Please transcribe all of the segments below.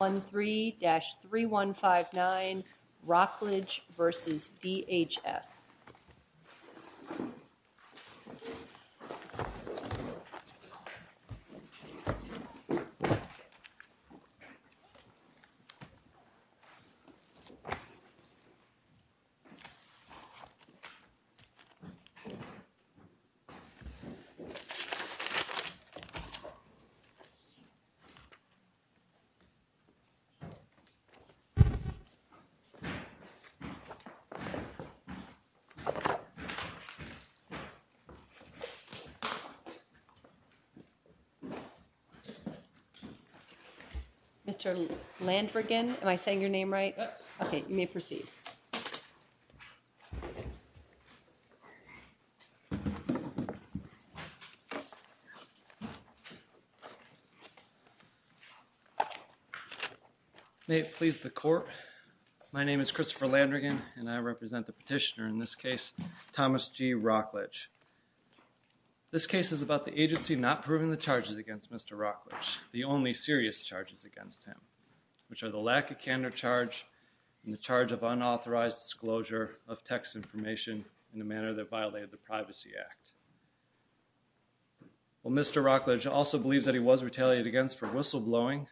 1-3-3159 Wrocklage v. DHS 1-3-3159 Wrocklage v. DHS May it please the Court, my name is Christopher Landrigan and I represent the petitioner in this case, Thomas G. Wrocklage. This case is about the agency not proving the charges against Mr. Wrocklage, the only serious charges against him, which are the lack of candor charge and the charge of unauthorized disclosure of text information in a manner that violated the Privacy Act. Mr. Wrocklage also believes that he was retaliated against for whistleblowing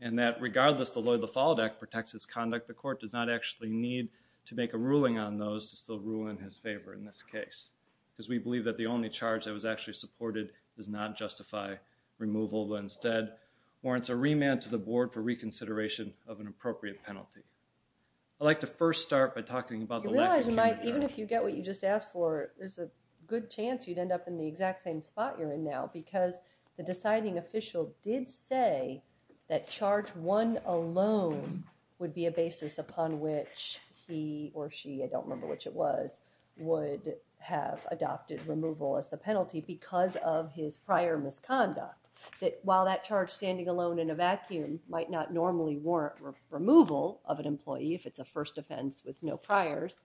and that regardless the Lloyd LaFollette Act protects his conduct, the Court does not actually need to make a ruling on those to still rule in his favor in this case. Because we believe that the only charge that was actually supported does not justify removal, but instead warrants a remand to the Board for reconsideration of an appropriate penalty. I'd like to first start by talking about the lack of candor charge. You realize you might, even if you get what you just asked for, there's a good chance you'd end up in the exact same spot you're in now, because the deciding official did say that charge one alone would be a basis upon which he or she, I don't remember which it was, would have adopted removal as the penalty because of his prior misconduct. That while that charge standing alone in a vacuum might not normally warrant removal of an employee if it's a first offense with no priors,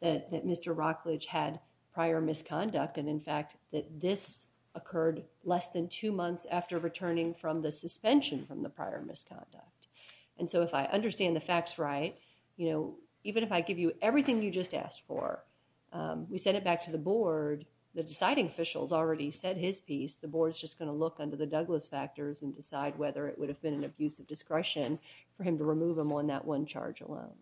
that Mr. Wrocklage had prior misconduct and in fact that this occurred less than two months after returning from the suspension from the prior misconduct. And so if I understand the facts right, you know, even if I give you everything you just asked for, we send it back to the Board, the deciding official's already said his piece, the Board's just going to look under the Douglas factors and decide whether it would have been an abuse of discretion for him to remove him on that one charge alone.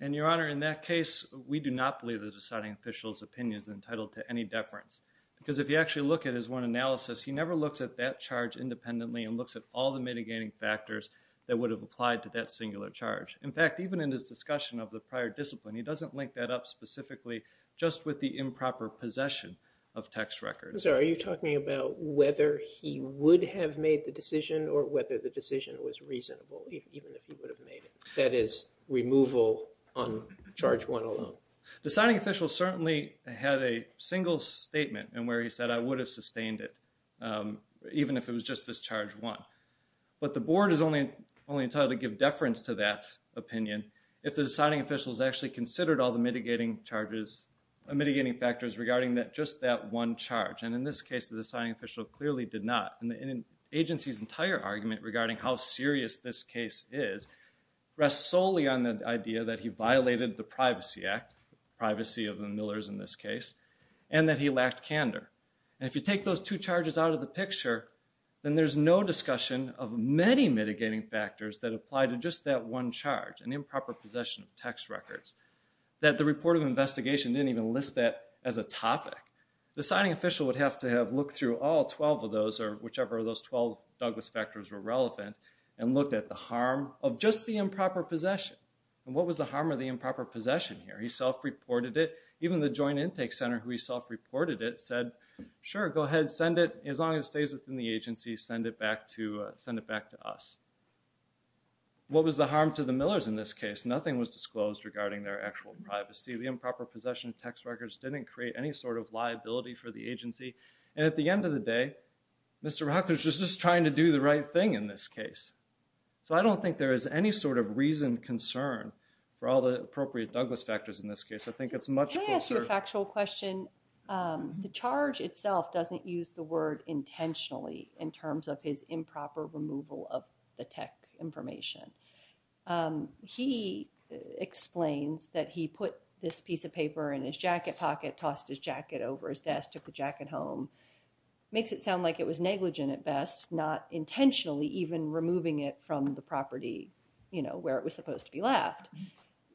And Your Honor, in that case, we do not believe the deciding official's opinion is entitled to any deference, because if you actually look at his one analysis, he never looks at that charge independently and looks at all the mitigating factors that would have applied to that singular charge. In fact, even in his discussion of the prior discipline, he doesn't link that up specifically just with the improper possession of tax records. So are you talking about whether he would have made the decision or whether the decision was reasonable, even if he would have made it? That is, removal on charge one alone. The deciding official certainly had a single statement in where he said, I would have sustained it, even if it was just this charge one. But the Board is only entitled to give deference to that opinion if the deciding official has actually considered all the mitigating charges, mitigating factors regarding just that one charge. And in this case, the deciding official clearly did not. And the agency's entire argument regarding how serious this case is rests solely on the idea that he violated the Privacy Act, privacy of the Millers in this case, and that he lacked candor. And if you take those two charges out of the picture, then there's no discussion of many mitigating factors that apply to just that one charge, an improper possession of tax records, that the report of investigation didn't even list that as a topic. The deciding official would have to have looked through all 12 of those, or whichever of those 12 Douglas factors were relevant, and looked at the harm of just the improper possession. And what was the harm of the improper possession here? He self-reported it. Even the Joint Intake Center, who he self-reported it, said, sure, go ahead, send it. As long as it stays within the agency, send it back to us. What was the harm to the Millers in this case? Nothing was disclosed regarding their actual privacy. The improper possession of tax records didn't create any sort of liability for the agency. And at the end of the day, Mr. Rockler is just trying to do the right thing in this case. So I don't think there is any sort of reasoned concern for all the appropriate Douglas factors in this case. I think it's much closer. Can I ask you a factual question? The charge itself doesn't use the word intentionally in terms of his improper removal of the tech information. He explains that he put this piece of paper in his jacket pocket, tossed his jacket over his desk, took the jacket home. Makes it sound like it was negligent at best, not intentionally even removing it from the property where it was supposed to be left.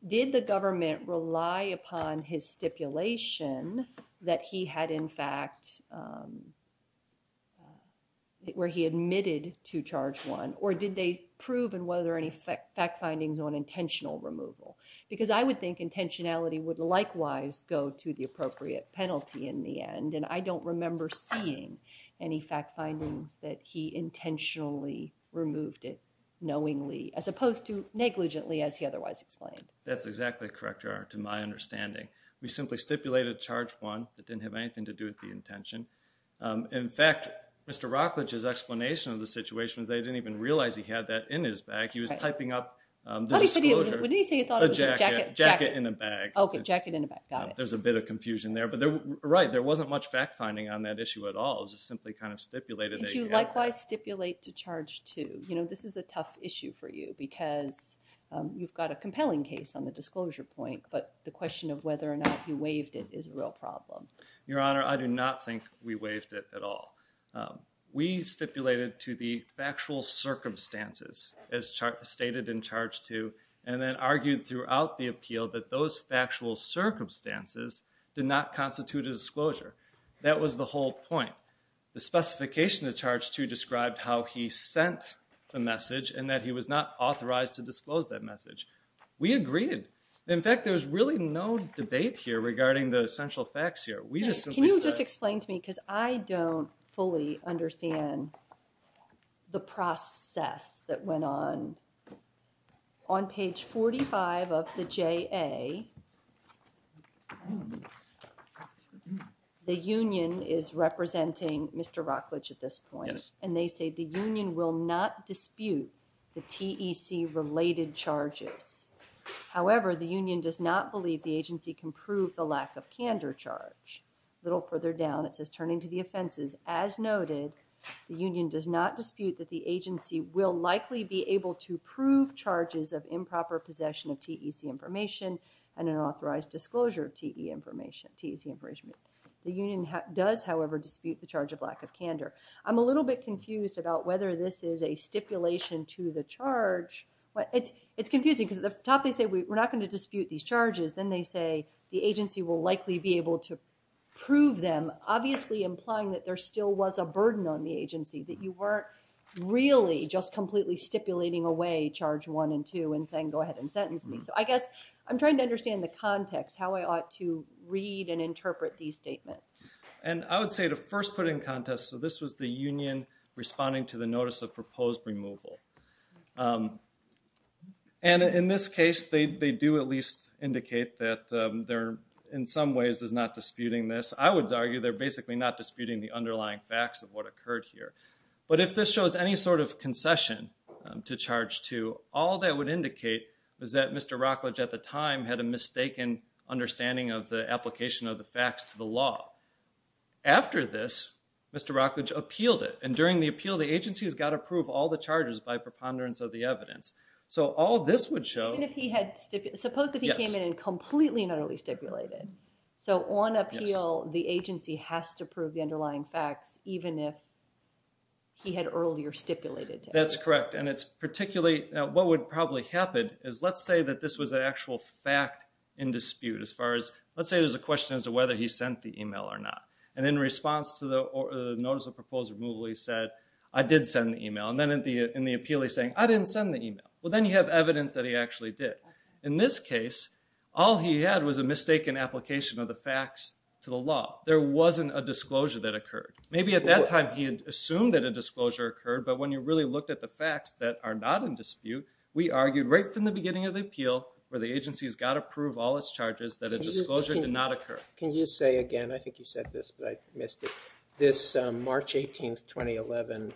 Did the government rely upon his stipulation that he had in fact, where he admitted to charge one? Or did they prove, and were there any fact findings on intentional removal? Because I would think intentionality would likewise go to the appropriate penalty in the end. And I don't remember seeing any fact findings that he intentionally removed it knowingly as opposed to negligently as he otherwise explained. That's exactly correct, Your Honor, to my understanding. We simply stipulated charge one. It didn't have anything to do with the intention. In fact, Mr. Rockler's explanation of the situation is they didn't even realize he had that in his bag. He was typing up the disclosure. What did he say he thought it was? A jacket in a bag. Okay, jacket in a bag. Got it. There's a bit of confusion there. Right, there wasn't much fact finding on that issue at all. It was just simply kind of stipulated. Did you likewise stipulate to charge two? You know, this is a tough issue for you because you've got a compelling case on the disclosure point, but the question of whether or not you waived it is a real problem. Your Honor, I do not think we waived it at all. We stipulated to the factual circumstances as stated in charge two, and then argued throughout the appeal that those factual circumstances did not constitute a disclosure. That was the whole point. The specification of charge two described how he sent the message and that he was not authorized to disclose that message. We agreed. In fact, there was really no debate here regarding the essential facts here. We just simply said. Just explain to me because I don't fully understand the process that went on. On page 45 of the JA, the union is representing Mr. Rockledge at this point. Yes. And they say the union will not dispute the TEC-related charges. However, the union does not believe the agency can prove the lack of candor charge. A little further down, it says turning to the offenses. As noted, the union does not dispute that the agency will likely be able to prove charges of improper possession of TEC information and an authorized disclosure of TEC information. The union does, however, dispute the charge of lack of candor. I'm a little bit confused about whether this is a stipulation to the charge. It's confusing because at the top they say we're not going to dispute these charges. Then they say the agency will likely be able to prove them, obviously implying that there still was a burden on the agency, that you weren't really just completely stipulating away charge one and two and saying go ahead and sentence me. So I guess I'm trying to understand the context, how I ought to read and interpret these statements. And I would say to first put in context, so this was the union responding to the notice of proposed removal. And in this case, they do at least indicate that they're in some ways not disputing this. I would argue they're basically not disputing the underlying facts of what occurred here. But if this shows any sort of concession to charge two, all that would indicate is that Mr. Rockledge at the time had a mistaken understanding of the application of the facts to the law. After this, Mr. Rockledge appealed it. And during the appeal, the agency has got to prove all the charges by preponderance of the evidence. So all this would show... Suppose that he came in and completely and utterly stipulated. So on appeal, the agency has to prove the underlying facts, even if he had earlier stipulated. That's correct. And what would probably happen is let's say that this was an actual fact in dispute. Let's say there's a question as to whether he sent the email or not. And in response to the notice of proposed removal, he said, I did send the email. And then in the appeal, he's saying, I didn't send the email. Well, then you have evidence that he actually did. In this case, all he had was a mistaken application of the facts to the law. There wasn't a disclosure that occurred. Maybe at that time he had assumed that a disclosure occurred. But when you really looked at the facts that are not in dispute, we argued right from the beginning of the appeal where the agency has got to prove all its charges that a disclosure did not occur. Can you say again? I think you said this, but I missed it. This March 18, 2011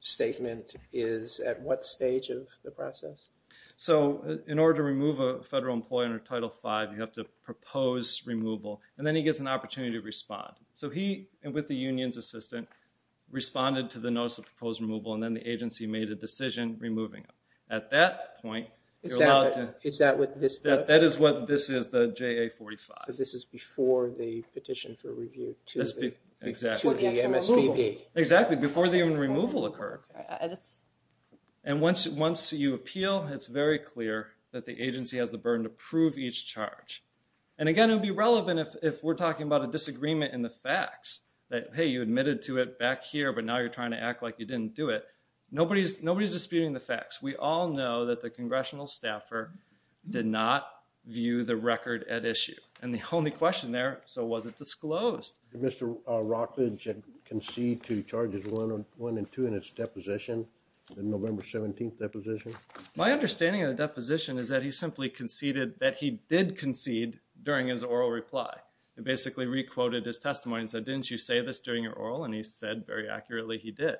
statement is at what stage of the process? So in order to remove a federal employee under Title V, you have to propose removal. And then he gets an opportunity to respond. So he, with the union's assistant, responded to the notice of proposed removal, and then the agency made a decision removing him. At that point, you're allowed to – Is that what this does? That is what this is, the JA-45. This is before the petition for review to the MSPB. Exactly, before the removal occurred. And once you appeal, it's very clear that the agency has the burden to prove each charge. And again, it would be relevant if we're talking about a disagreement in the facts, that, hey, you admitted to it back here, but now you're trying to act like you didn't do it. Nobody's disputing the facts. We all know that the congressional staffer did not view the record at issue. And the only question there, so was it disclosed? Did Mr. Rockledge concede to Charges 1 and 2 in his deposition, the November 17th deposition? My understanding of the deposition is that he simply conceded that he did concede during his oral reply. He basically re-quoted his testimony and said, didn't you say this during your oral, and he said very accurately he did.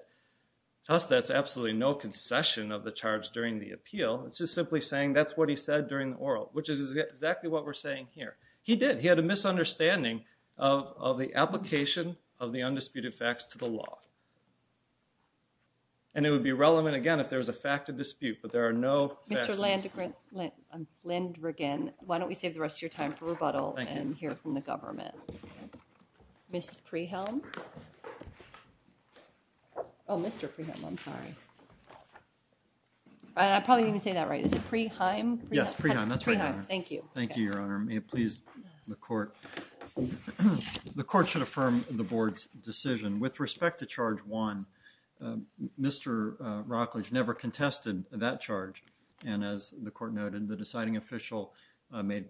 To us, that's absolutely no concession of the charge during the appeal. It's just simply saying that's what he said during the oral, which is exactly what we're saying here. He did. He had a misunderstanding of the application of the undisputed facts to the law. And it would be relevant, again, if there was a fact of dispute, but there are no facts. Mr. Landrigan, why don't we save the rest of your time for rebuttal and hear from the government. Ms. Prehelm? Oh, Mr. Prehelm, I'm sorry. I probably didn't say that right. Is it Preheim? Yes, Preheim. That's right, Your Honor. Thank you. Thank you, Your Honor. May it please the Court. The Court should affirm the Board's decision. With respect to Charge 1, Mr. Rockledge never contested that charge, and as the Court noted, the deciding official made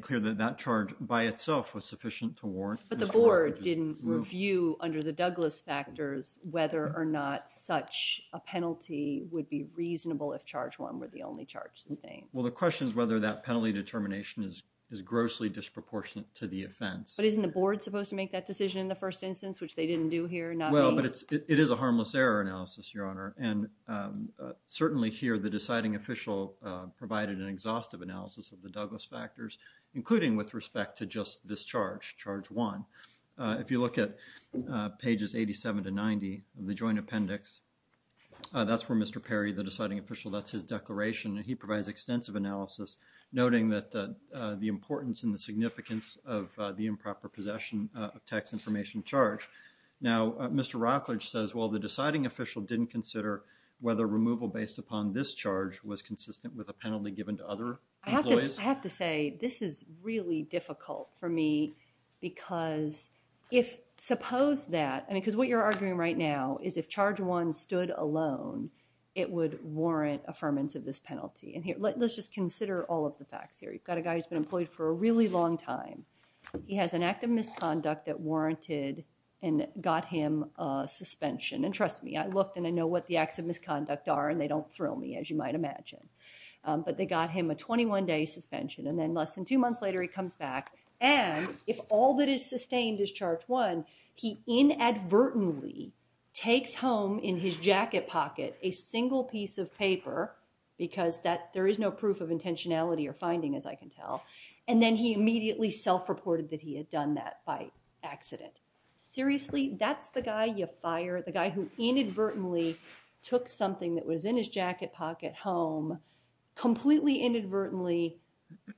clear that that charge by itself was sufficient to warrant Mr. Rockledge's move. What is your view under the Douglas factors whether or not such a penalty would be reasonable if Charge 1 were the only charge sustained? Well, the question is whether that penalty determination is grossly disproportionate to the offense. But isn't the Board supposed to make that decision in the first instance, which they didn't do here? Well, but it is a harmless error analysis, Your Honor, and certainly here the deciding official provided an exhaustive analysis of the Douglas factors, including with respect to just this charge, Charge 1. If you look at pages 87 to 90 of the Joint Appendix, that's for Mr. Perry, the deciding official. That's his declaration, and he provides extensive analysis, noting that the importance and the significance of the improper possession of tax information charge. Now, Mr. Rockledge says, well, the deciding official didn't consider whether removal based upon this charge was consistent with a penalty given to other employees. I have to say this is really difficult for me because if suppose that, because what you're arguing right now is if Charge 1 stood alone, it would warrant affirmance of this penalty. And let's just consider all of the facts here. You've got a guy who's been employed for a really long time. He has an act of misconduct that warranted and got him suspension. And trust me, I looked and I know what the acts of misconduct are, and they don't thrill me, as you might imagine. But they got him a 21-day suspension, and then less than two months later, he comes back. And if all that is sustained is Charge 1, he inadvertently takes home in his jacket pocket a single piece of paper, because there is no proof of intentionality or finding, as I can tell. And then he immediately self-reported that he had done that by accident. Seriously, that's the guy you fire, the guy who inadvertently took something that was in his jacket pocket home, completely inadvertently,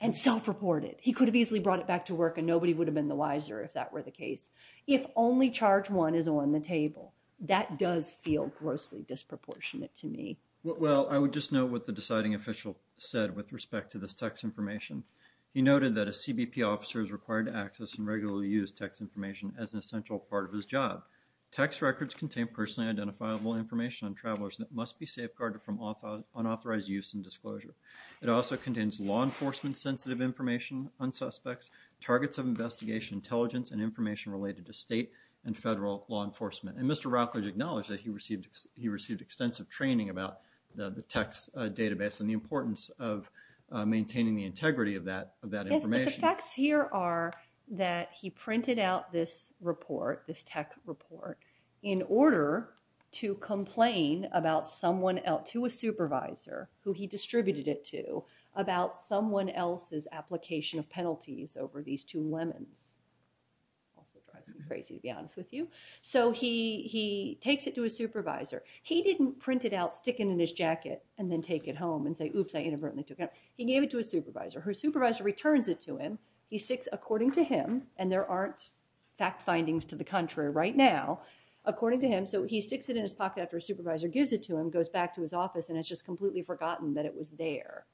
and self-reported. He could have easily brought it back to work, and nobody would have been the wiser if that were the case. If only Charge 1 is on the table, that does feel grossly disproportionate to me. Well, I would just note what the deciding official said with respect to this text information. He noted that a CBP officer is required to access and regularly use text information as an essential part of his job. Text records contain personally identifiable information on travelers that must be safeguarded from unauthorized use and disclosure. It also contains law enforcement-sensitive information on suspects, targets of investigation, intelligence, and information related to state and federal law enforcement. And Mr. Routledge acknowledged that he received extensive training about the text database and the importance of maintaining the integrity of that information. Yes, but the facts here are that he printed out this report, this tech report, in order to complain to a supervisor, who he distributed it to, about someone else's application of penalties over these two lemons. Also drives me crazy, to be honest with you. So he takes it to a supervisor. He didn't print it out, stick it in his jacket, and then take it home and say, oops, I inadvertently took it out. He gave it to a supervisor. Her supervisor returns it to him. He sticks it, according to him, and there aren't fact findings to the contrary right now, according to him, so he sticks it in his pocket after a supervisor gives it to him, goes back to his office, and has just completely forgotten that it was there.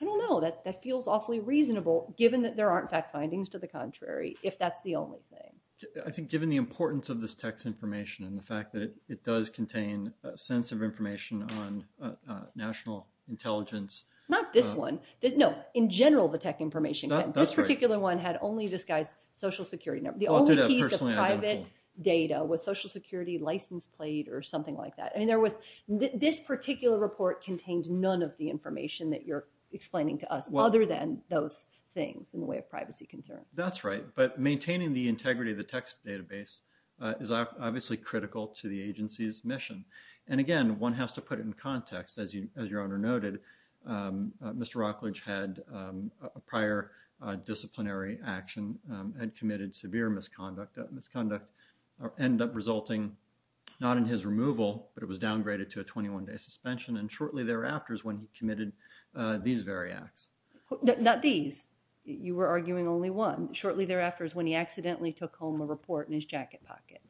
I don't know. That feels awfully reasonable, given that there aren't fact findings to the contrary, if that's the only thing. I think given the importance of this tech's information and the fact that it does contain a sense of information on national intelligence. Not this one. No, in general, the tech information. This particular one had only this guy's Social Security number. The only piece of private data was Social Security license plate or something like that. I mean, this particular report contained none of the information that you're explaining to us, other than those things in the way of privacy concerns. That's right. But maintaining the integrity of the tech's database is obviously critical to the agency's mission. And, again, one has to put it in context. As your Honor noted, Mr. Rockledge had a prior disciplinary action and committed severe misconduct. That misconduct ended up resulting not in his removal, but it was downgraded to a 21-day suspension, and shortly thereafter is when he committed these very acts. Not these. You were arguing only one. Shortly thereafter is when he accidentally took home a report in his jacket pocket.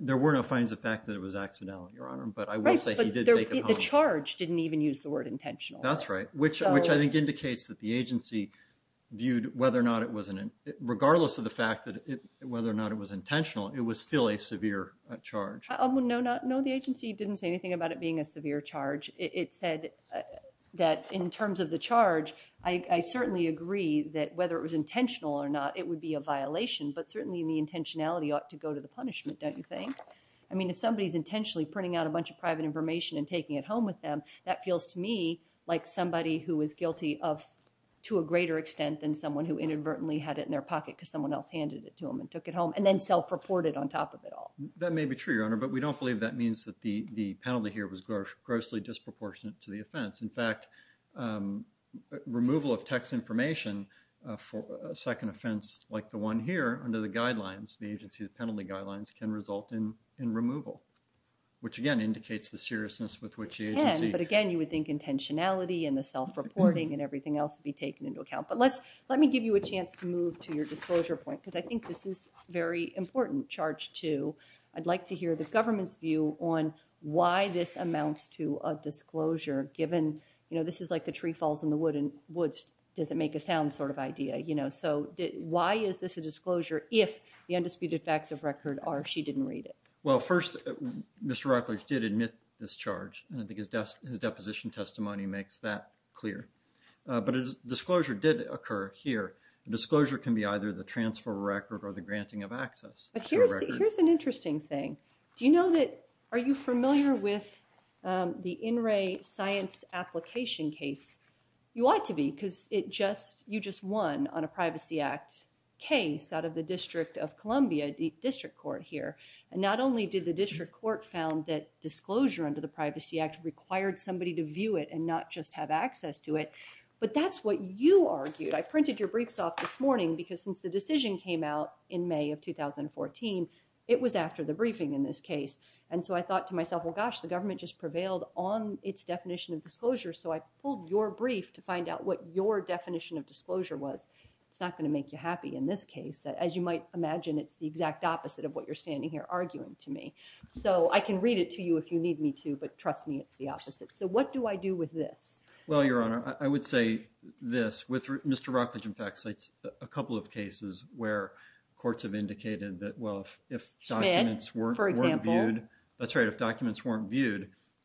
There were no findings of fact that it was accidental, Your Honor, but I will say he did take it home. Right, but the charge didn't even use the word intentional. That's right, which I think indicates that the agency viewed whether or not it was, regardless of the fact whether or not it was intentional, it was still a severe charge. No, the agency didn't say anything about it being a severe charge. It said that in terms of the charge, I certainly agree that whether it was intentional or not, it would be a violation, but certainly the intentionality ought to go to the punishment, don't you think? I mean, if somebody's intentionally printing out a bunch of private information and taking it home with them, that feels to me like somebody who is guilty to a greater extent than someone who inadvertently had it in their pocket because someone else handed it to them and took it home, and then self-reported on top of it all. That may be true, Your Honor, but we don't believe that means that the penalty here was grossly disproportionate to the offense. In fact, removal of text information for a second offense like the one here under the guidelines, the agency's penalty guidelines, can result in removal, which again indicates the seriousness with which the agency— Again, but again, you would think intentionality and the self-reporting and everything else would be taken into account, but let me give you a chance to move to your disclosure point, because I think this is a very important charge, too. I'd like to hear the government's view on why this amounts to a disclosure, given, you know, this is like the tree falls in the woods doesn't make a sound sort of idea, you know, so why is this a disclosure if the undisputed facts of record are she didn't read it? Well, first, Mr. Rutledge did admit this charge, and I think his deposition testimony makes that clear, but disclosure did occur here. Disclosure can be either the transfer of record or the granting of access. But here's an interesting thing. Do you know that—are you familiar with the In Re science application case? You ought to be, because it just—you just won on a Privacy Act case out of the District of Columbia, the district court here, and not only did the district court found that disclosure under the Privacy Act required somebody to view it and not just have access to it, but that's what you argued. I printed your briefs off this morning because since the decision came out in May of 2014, it was after the briefing in this case, and so I thought to myself, well, gosh, the government just prevailed on its definition of disclosure, so I pulled your brief to find out what your definition of disclosure was. It's not going to make you happy in this case. As you might imagine, it's the exact opposite of what you're standing here arguing to me. So I can read it to you if you need me to, but trust me, it's the opposite. So what do I do with this? Well, Your Honor, I would say this. With Mr. Rockledge, in fact, it's a couple of cases where courts have indicated that, well, if documents weren't viewed,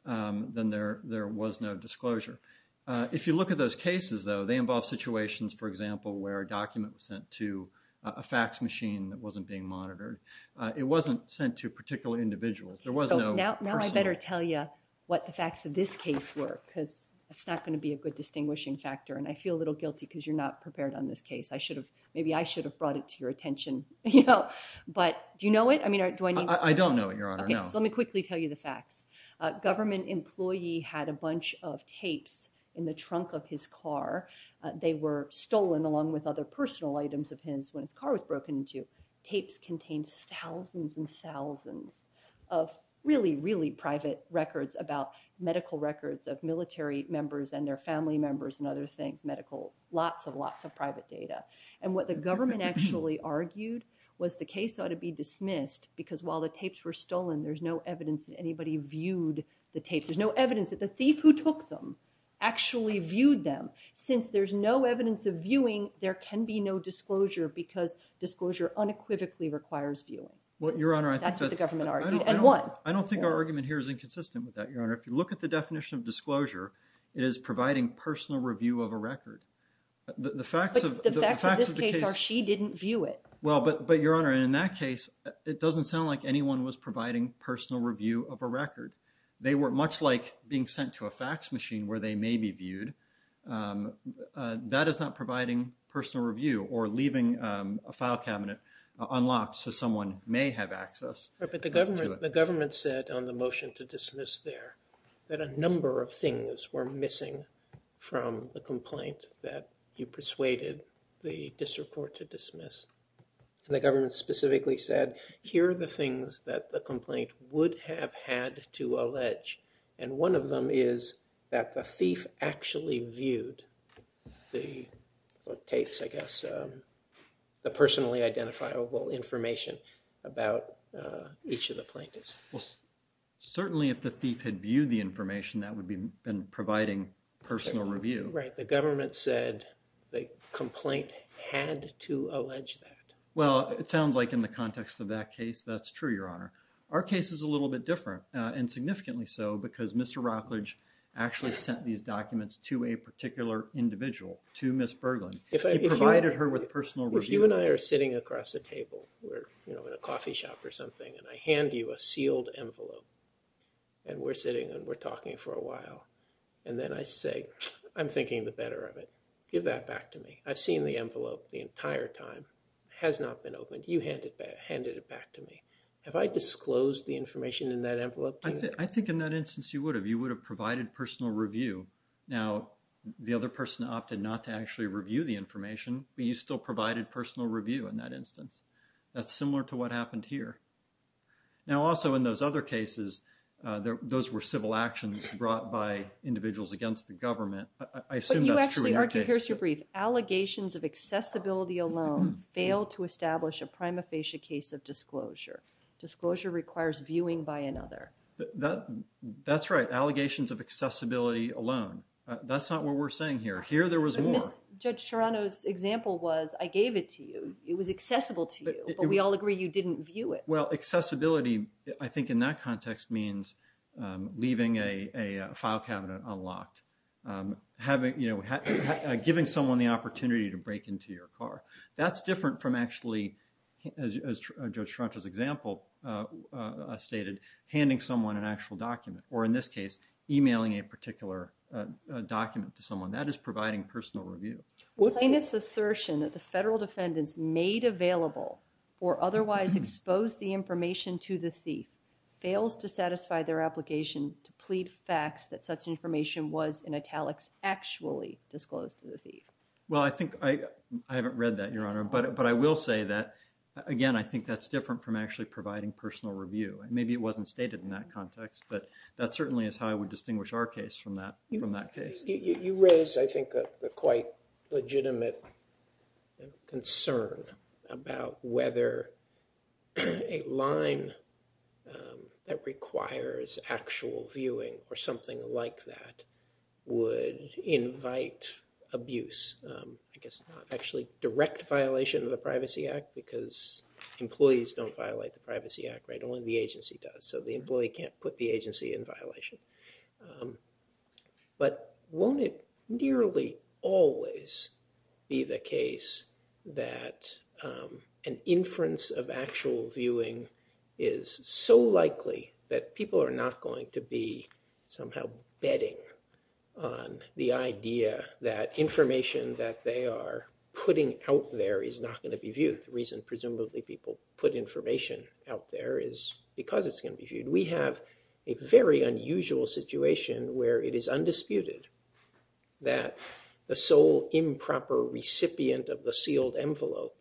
then there was no disclosure. If you look at those cases, though, they involve situations, for example, where a document was sent to a fax machine that wasn't being monitored. It wasn't sent to particular individuals. There was no personal. Now I better tell you what the facts of this case were because it's not going to be a good distinguishing factor, and I feel a little guilty because you're not prepared on this case. Maybe I should have brought it to your attention, but do you know it? I don't know it, Your Honor, no. Okay, so let me quickly tell you the facts. A government employee had a bunch of tapes in the trunk of his car. They were stolen along with other personal items of his when his car was broken into. Tapes contained thousands and thousands of really, really private records about medical records of military members and their family members and other things, medical, lots and lots of private data. And what the government actually argued was the case ought to be dismissed because while the tapes were stolen, there's no evidence that anybody viewed the tapes. There's no evidence that the thief who took them actually viewed them. Since there's no evidence of viewing, there can be no disclosure because disclosure unequivocally requires viewing. That's what the government argued, and what? I don't think our argument here is inconsistent with that, Your Honor. If you look at the definition of disclosure, it is providing personal review of a record. But the facts of this case are she didn't view it. Well, but, Your Honor, in that case, it doesn't sound like anyone was providing personal review of a record. They were much like being sent to a fax machine where they may be viewed. That is not providing personal review or leaving a file cabinet unlocked so someone may have access. But the government said on the motion to dismiss there that a number of things were missing from the complaint that you persuaded the district court to dismiss. And the government specifically said here are the things that the complaint would have had to allege, and one of them is that the thief actually viewed the tapes, I guess, the personally identifiable information about each of the plaintiffs. Well, certainly if the thief had viewed the information, that would have been providing personal review. Right. The government said the complaint had to allege that. Well, it sounds like in the context of that case, that's true, Your Honor. Our case is a little bit different, and significantly so, because Mr. Rockledge actually sent these documents to a particular individual, to Ms. Berglund. He provided her with personal review. If you and I are sitting across the table, you know, in a coffee shop or something, and I hand you a sealed envelope, and we're sitting and we're talking for a while, and then I say, I'm thinking the better of it. Give that back to me. I've seen the envelope the entire time. It has not been opened. You handed it back to me. Have I disclosed the information in that envelope to you? I think in that instance you would have. You would have provided personal review. Now, the other person opted not to actually review the information, but you still provided personal review in that instance. That's similar to what happened here. Now, also in those other cases, those were civil actions brought by individuals against the government. I assume that's true in your case. But you actually argued, here's your brief, allegations of accessibility alone fail to establish a prima facie case of disclosure. Disclosure requires viewing by another. That's right. Allegations of accessibility alone. That's not what we're saying here. Here there was more. Judge Serrano's example was, I gave it to you. It was accessible to you. But we all agree you didn't view it. Well, accessibility, I think in that context, means leaving a file cabinet unlocked. Giving someone the opportunity to break into your car. That's different from actually, as Judge Serrano's example stated, handing someone an actual document. Or in this case, emailing a particular document to someone. That is providing personal review. Plaintiff's assertion that the federal defendants made available or otherwise exposed the information to the thief fails to satisfy their application to plead facts that such information was, in italics, actually disclosed to the thief. Well, I think I haven't read that, Your Honor. But I will say that, again, I think that's different from actually providing personal review. Maybe it wasn't stated in that context. But that certainly is how I would distinguish our case from that case. You raise, I think, a quite legitimate concern about whether a line that requires actual viewing or something like that would invite abuse. I guess not actually direct violation of the Privacy Act, because employees don't violate the Privacy Act, right? Only the agency does. So the employee can't put the agency in violation. But won't it nearly always be the case that an inference of actual viewing is so likely that people are not going to be somehow betting on the idea that information that they are putting out there is not going to be viewed? The reason, presumably, people put information out there is because it's going to be viewed. We have a very unusual situation where it is undisputed that the sole improper recipient of the sealed envelope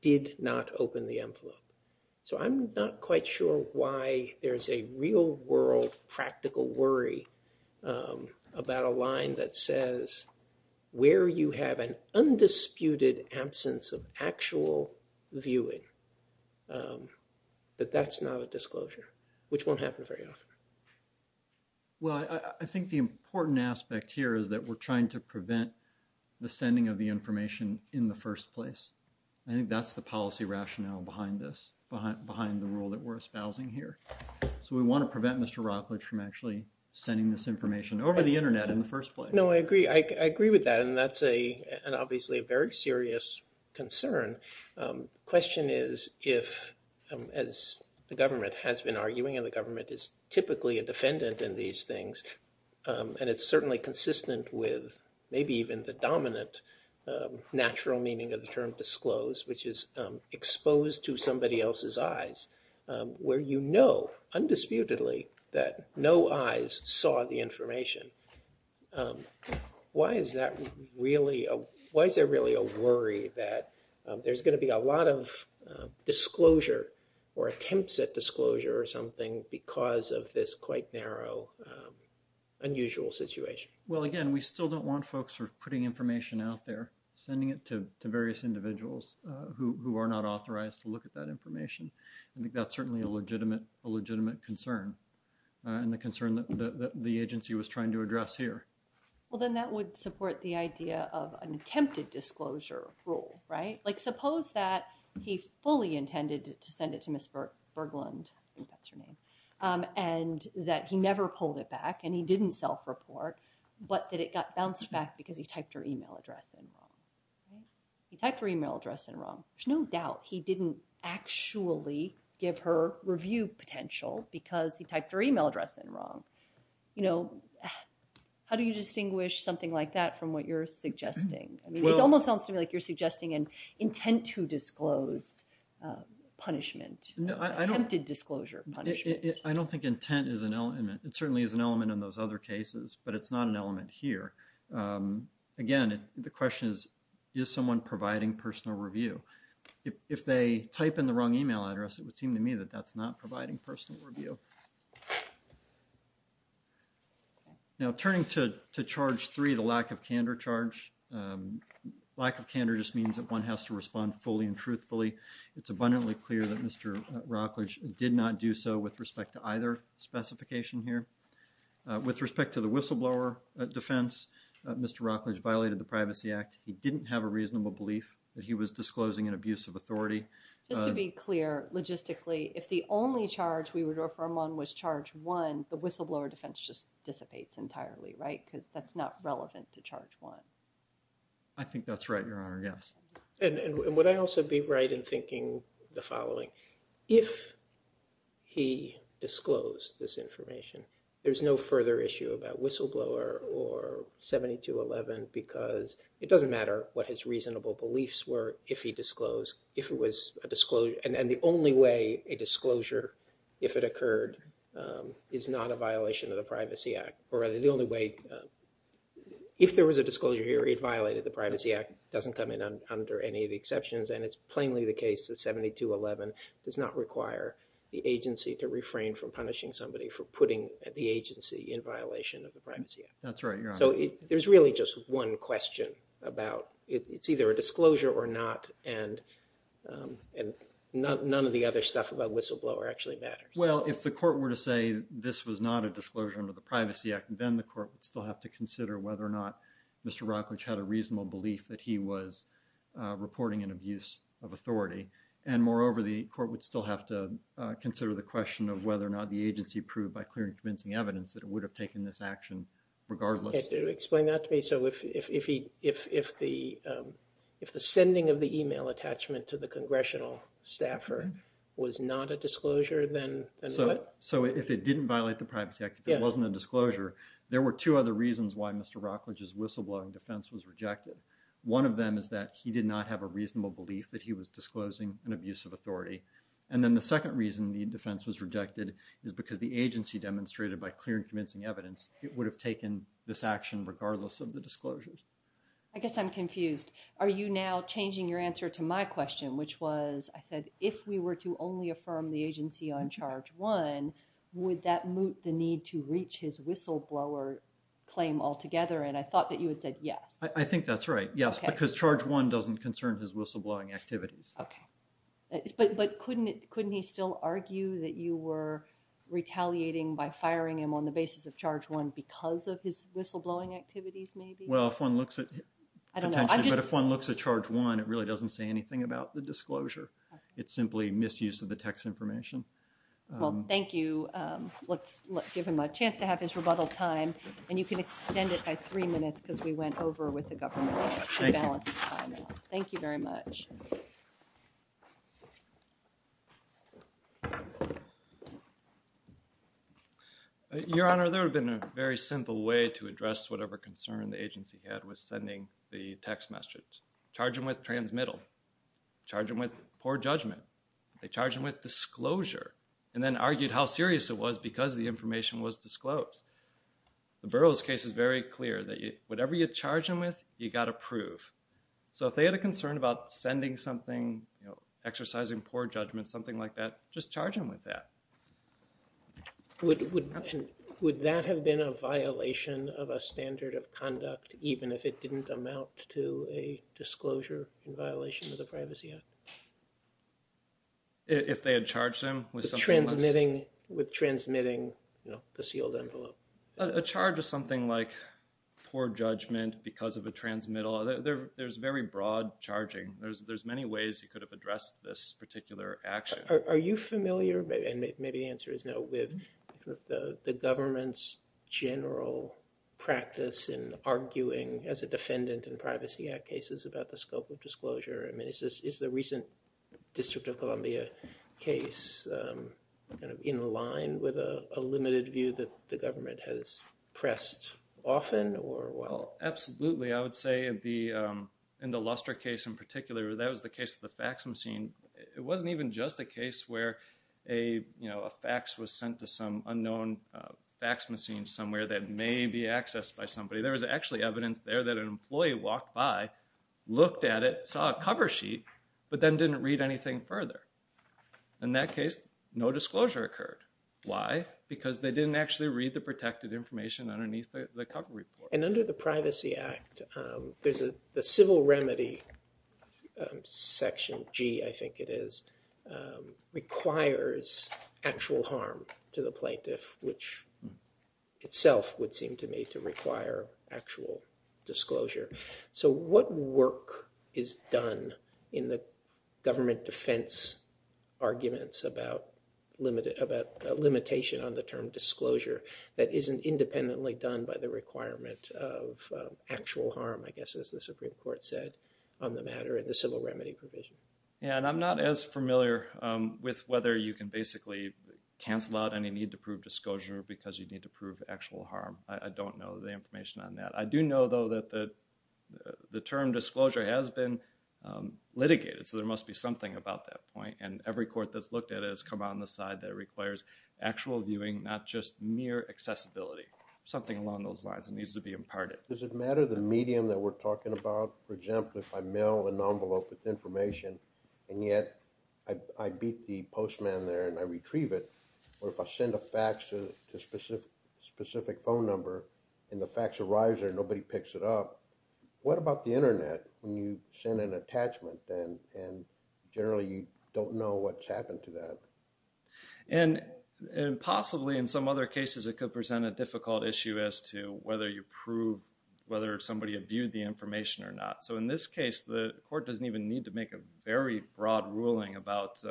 did not open the envelope. So I'm not quite sure why there's a real-world practical worry about a line that says, where you have an undisputed absence of actual viewing, that that's not a disclosure. Which won't happen very often. Well, I think the important aspect here is that we're trying to prevent the sending of the information in the first place. I think that's the policy rationale behind this, behind the rule that we're espousing here. So we want to prevent Mr. Rockledge from actually sending this information over the Internet in the first place. No, I agree. I agree with that. And that's obviously a very serious concern. Question is if, as the government has been arguing, and the government is typically a defendant in these things, and it's certainly consistent with maybe even the dominant natural meaning of the term disclose, which is exposed to somebody else's eyes, where you know, undisputedly, that no eyes saw the information. Why is that really, why is there really a worry that there's going to be a lot of disclosure or attempts at disclosure or something because of this quite narrow, unusual situation? Well, again, we still don't want folks who are putting information out there, sending it to various individuals who are not authorized to look at that information. I think that's certainly a legitimate concern. And the concern that the agency was trying to address here. Well, then that would support the idea of an attempted disclosure rule, right? Like suppose that he fully intended to send it to Ms. Berglund, I think that's her name, and that he never pulled it back and he didn't self-report, but that it got bounced back because he typed her email address in wrong. He typed her email address in wrong. There's no doubt he didn't actually give her review potential because he typed her email address in wrong. How do you distinguish something like that from what you're suggesting? It almost sounds to me like you're suggesting an intent to disclose punishment, attempted disclosure punishment. I don't think intent is an element. It certainly is an element in those other cases, but it's not an element here. Again, the question is, is someone providing personal review? If they type in the wrong email address, it would seem to me that that's not providing personal review. Now, turning to charge three, the lack of candor charge. Lack of candor just means that one has to respond fully and truthfully. It's abundantly clear that Mr. Rockledge did not do so with respect to either specification here. With respect to the whistleblower defense, Mr. Rockledge violated the Privacy Act. He didn't have a reasonable belief that he was disclosing an abuse of authority. Just to be clear, logistically, if the only charge we would refer him on was charge one, the whistleblower defense just dissipates entirely, right? Because that's not relevant to charge one. I think that's right, Your Honor, yes. And would I also be right in thinking the following? If he disclosed this information, there's no further issue about whistleblower or 7211 because it doesn't matter what his reasonable beliefs were if he disclosed, if it was a disclosure, and the only way a disclosure, if it occurred, is not a violation of the Privacy Act, or rather the only way, if there was a disclosure here, it violated the Privacy Act, doesn't come in under any of the exceptions, and it's plainly the case that 7211 does not require the agency to refrain from punishing somebody for putting the agency in violation of the Privacy Act. That's right, Your Honor. So there's really just one question about, it's either a disclosure or not, and none of the other stuff about whistleblower actually matters. Well, if the court were to say this was not a disclosure under the Privacy Act, then the court would still have to consider whether or not Mr. Rocklidge had a reasonable belief that he was reporting an abuse of authority. And moreover, the court would still have to consider the question of whether or not the agency proved by clear and convincing evidence that it would have taken this action regardless. Explain that to me. So if the sending of the email attachment to the congressional staffer was not a disclosure, then what? So if it didn't violate the Privacy Act, if it wasn't a disclosure, there were two other reasons why Mr. Rocklidge's whistleblowing defense was rejected. One of them is that he did not have a reasonable belief that he was disclosing an abuse of authority. And then the second reason the defense was rejected is because the agency demonstrated by clear and convincing evidence it would have taken this action regardless of the disclosure. I guess I'm confused. Are you now changing your answer to my question, which was, I said, if we were to only affirm the agency on Charge 1, would that moot the need to reach his whistleblower claim altogether? And I thought that you had said yes. I think that's right, yes, because Charge 1 doesn't concern his whistleblowing activities. Okay. But couldn't he still argue that you were retaliating by firing him on the basis of Charge 1 because of his whistleblowing activities, maybe? Well, if one looks at... I don't know. But if one looks at Charge 1, it really doesn't say anything about the disclosure. It's simply misuse of the text information. Well, thank you. Let's give him a chance to have his rebuttal time, and you can extend it by three minutes because we went over with the government to balance the time out. Thank you. Thank you very much. Your Honor, there would have been a very simple way to address whatever concern the agency had with sending the text message. Charge him with transmittal. Charge him with poor judgment. Charge him with disclosure. And then argued how serious it was because the information was disclosed. The Burroughs case is very clear that whatever you charge him with, you got to prove. So if they had a concern about sending something, exercising poor judgment, something like that, just charge him with that. Would that have been a violation of a standard of conduct, even if it didn't amount to a disclosure in violation of the Privacy Act? If they had charged him with something else? With transmitting the sealed envelope. A charge of something like poor judgment because of a transmittal, there's very broad charging. There's many ways you could have addressed this particular action. Are you familiar, and maybe the answer is no, with the government's general practice in arguing as a defendant in Privacy Act cases about the scope of disclosure? Is the recent District of Columbia case in line with a limited view that the government has pressed often? Absolutely. I would say in the Luster case in particular, that was the case of the fax machine. It wasn't even just a case where a fax was sent to some unknown fax machine somewhere that may be accessed by somebody. There was actually evidence there that an employee walked by, looked at it, saw a cover sheet, but then didn't read anything further. In that case, no disclosure occurred. Why? Because they didn't actually read the protected information underneath the cover report. And under the Privacy Act, there's a civil remedy, Section G, I think it is, requires actual harm to the plaintiff, which itself would seem to me to require actual disclosure. So what work is done in the government defense arguments about limitation on the term disclosure that isn't independently done by the requirement of actual harm, I guess, as the Supreme Court said, on the matter of the civil remedy provision? Yeah, and I'm not as familiar with whether you can basically cancel out any need to prove disclosure because you need to prove actual harm. I don't know the information on that. I do know, though, that the term disclosure has been litigated, so there must be something about that point. And every court that's looked at it has come out and decided that it requires actual viewing, not just mere accessibility, something along those lines that needs to be imparted. Does it matter the medium that we're talking about? For example, if I mail an envelope with information and yet I beat the postman there and I retrieve it, or if I send a fax to a specific phone number and the fax arrives there and nobody picks it up, what about the Internet when you send an attachment and generally you don't know what's happened to that? And possibly in some other cases it could present a difficult issue as to whether you prove whether somebody had viewed the information or not. So in this case, the court doesn't even need to make a very broad ruling about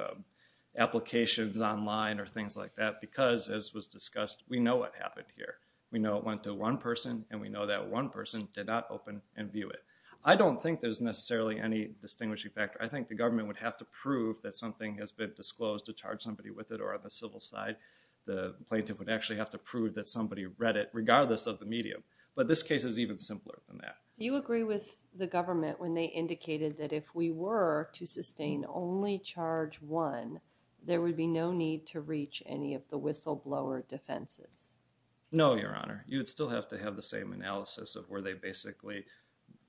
applications online or things like that because, as was discussed, we know what happened here. We know it went to one person and we know that one person did not open and view it. I don't think there's necessarily any distinguishing factor. I think the government would have to prove that something has been disclosed to charge somebody with it or on the civil side the plaintiff would actually have to prove that somebody read it regardless of the medium. But this case is even simpler than that. Do you agree with the government when they indicated that if we were to sustain only charge one, there would be no need to reach any of the whistleblower defenses? No, Your Honor. You'd still have to have the same analysis of were they basically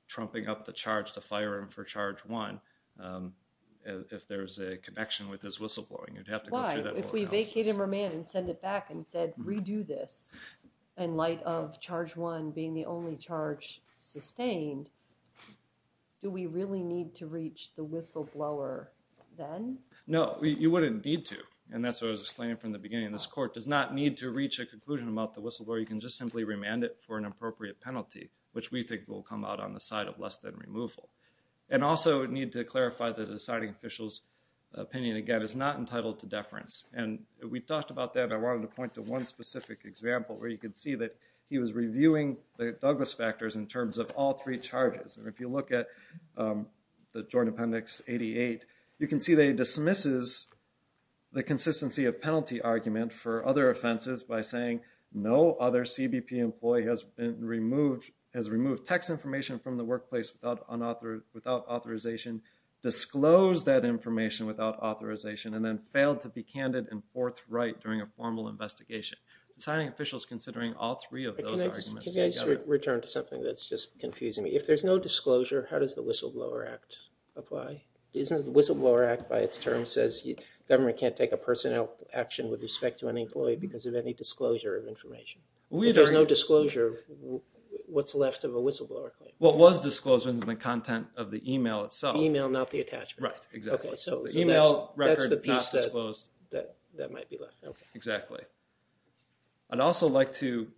trumping up the charge to fire him for charge one if there's a connection with his whistleblowing. You'd have to go through that whole analysis. Why? If we were to do this in light of charge one being the only charge sustained, do we really need to reach the whistleblower then? No. You wouldn't need to and that's what I was explaining from the beginning. This court does not need to reach a conclusion about the whistleblower. You can just simply remand it for an appropriate penalty which we think will come out on the side of less than removal. And also, I need to clarify the deciding official's opinion again is not entitled to deference. We talked about that and I wanted to point to one specific example where you can see that he was reviewing the Douglas factors in terms of all three charges. If you look at the Joint Appendix 88, you can see they dismisses the consistency of penalty argument for other offenses by saying no other CBP employee has removed text information from the workplace without authorization, disclosed that information without authorization, and then failed to be candid and forthright during a formal investigation. The deciding official is considering all three of those arguments together. Can I just return to something that's just confusing me? If there's no disclosure, how does the Whistleblower Act apply? Isn't the Whistleblower Act by its term says government can't take a personnel action with respect to an employee because of any disclosure of information? If there's no disclosure, what's left of a whistleblower claim? What was disclosed was the content of the email itself. Email, not the attachment. Right, exactly. The email record that might be left. Exactly. I'd also like to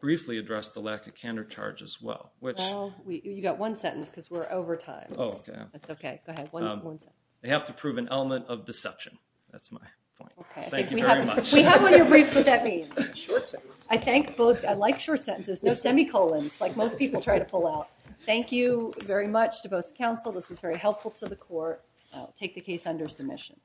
briefly address the lack of candid charge as well. Well, you got one sentence because we're over time. Oh, okay. That's okay. Go ahead, one sentence. They have to prove an element of deception. That's my point. Thank you very much. We have on your briefs what that means. I like short sentences. No semicolons like most people try to pull out. Thank you very much to both counsel. This was very helpful to the court. I'll take the case under submission.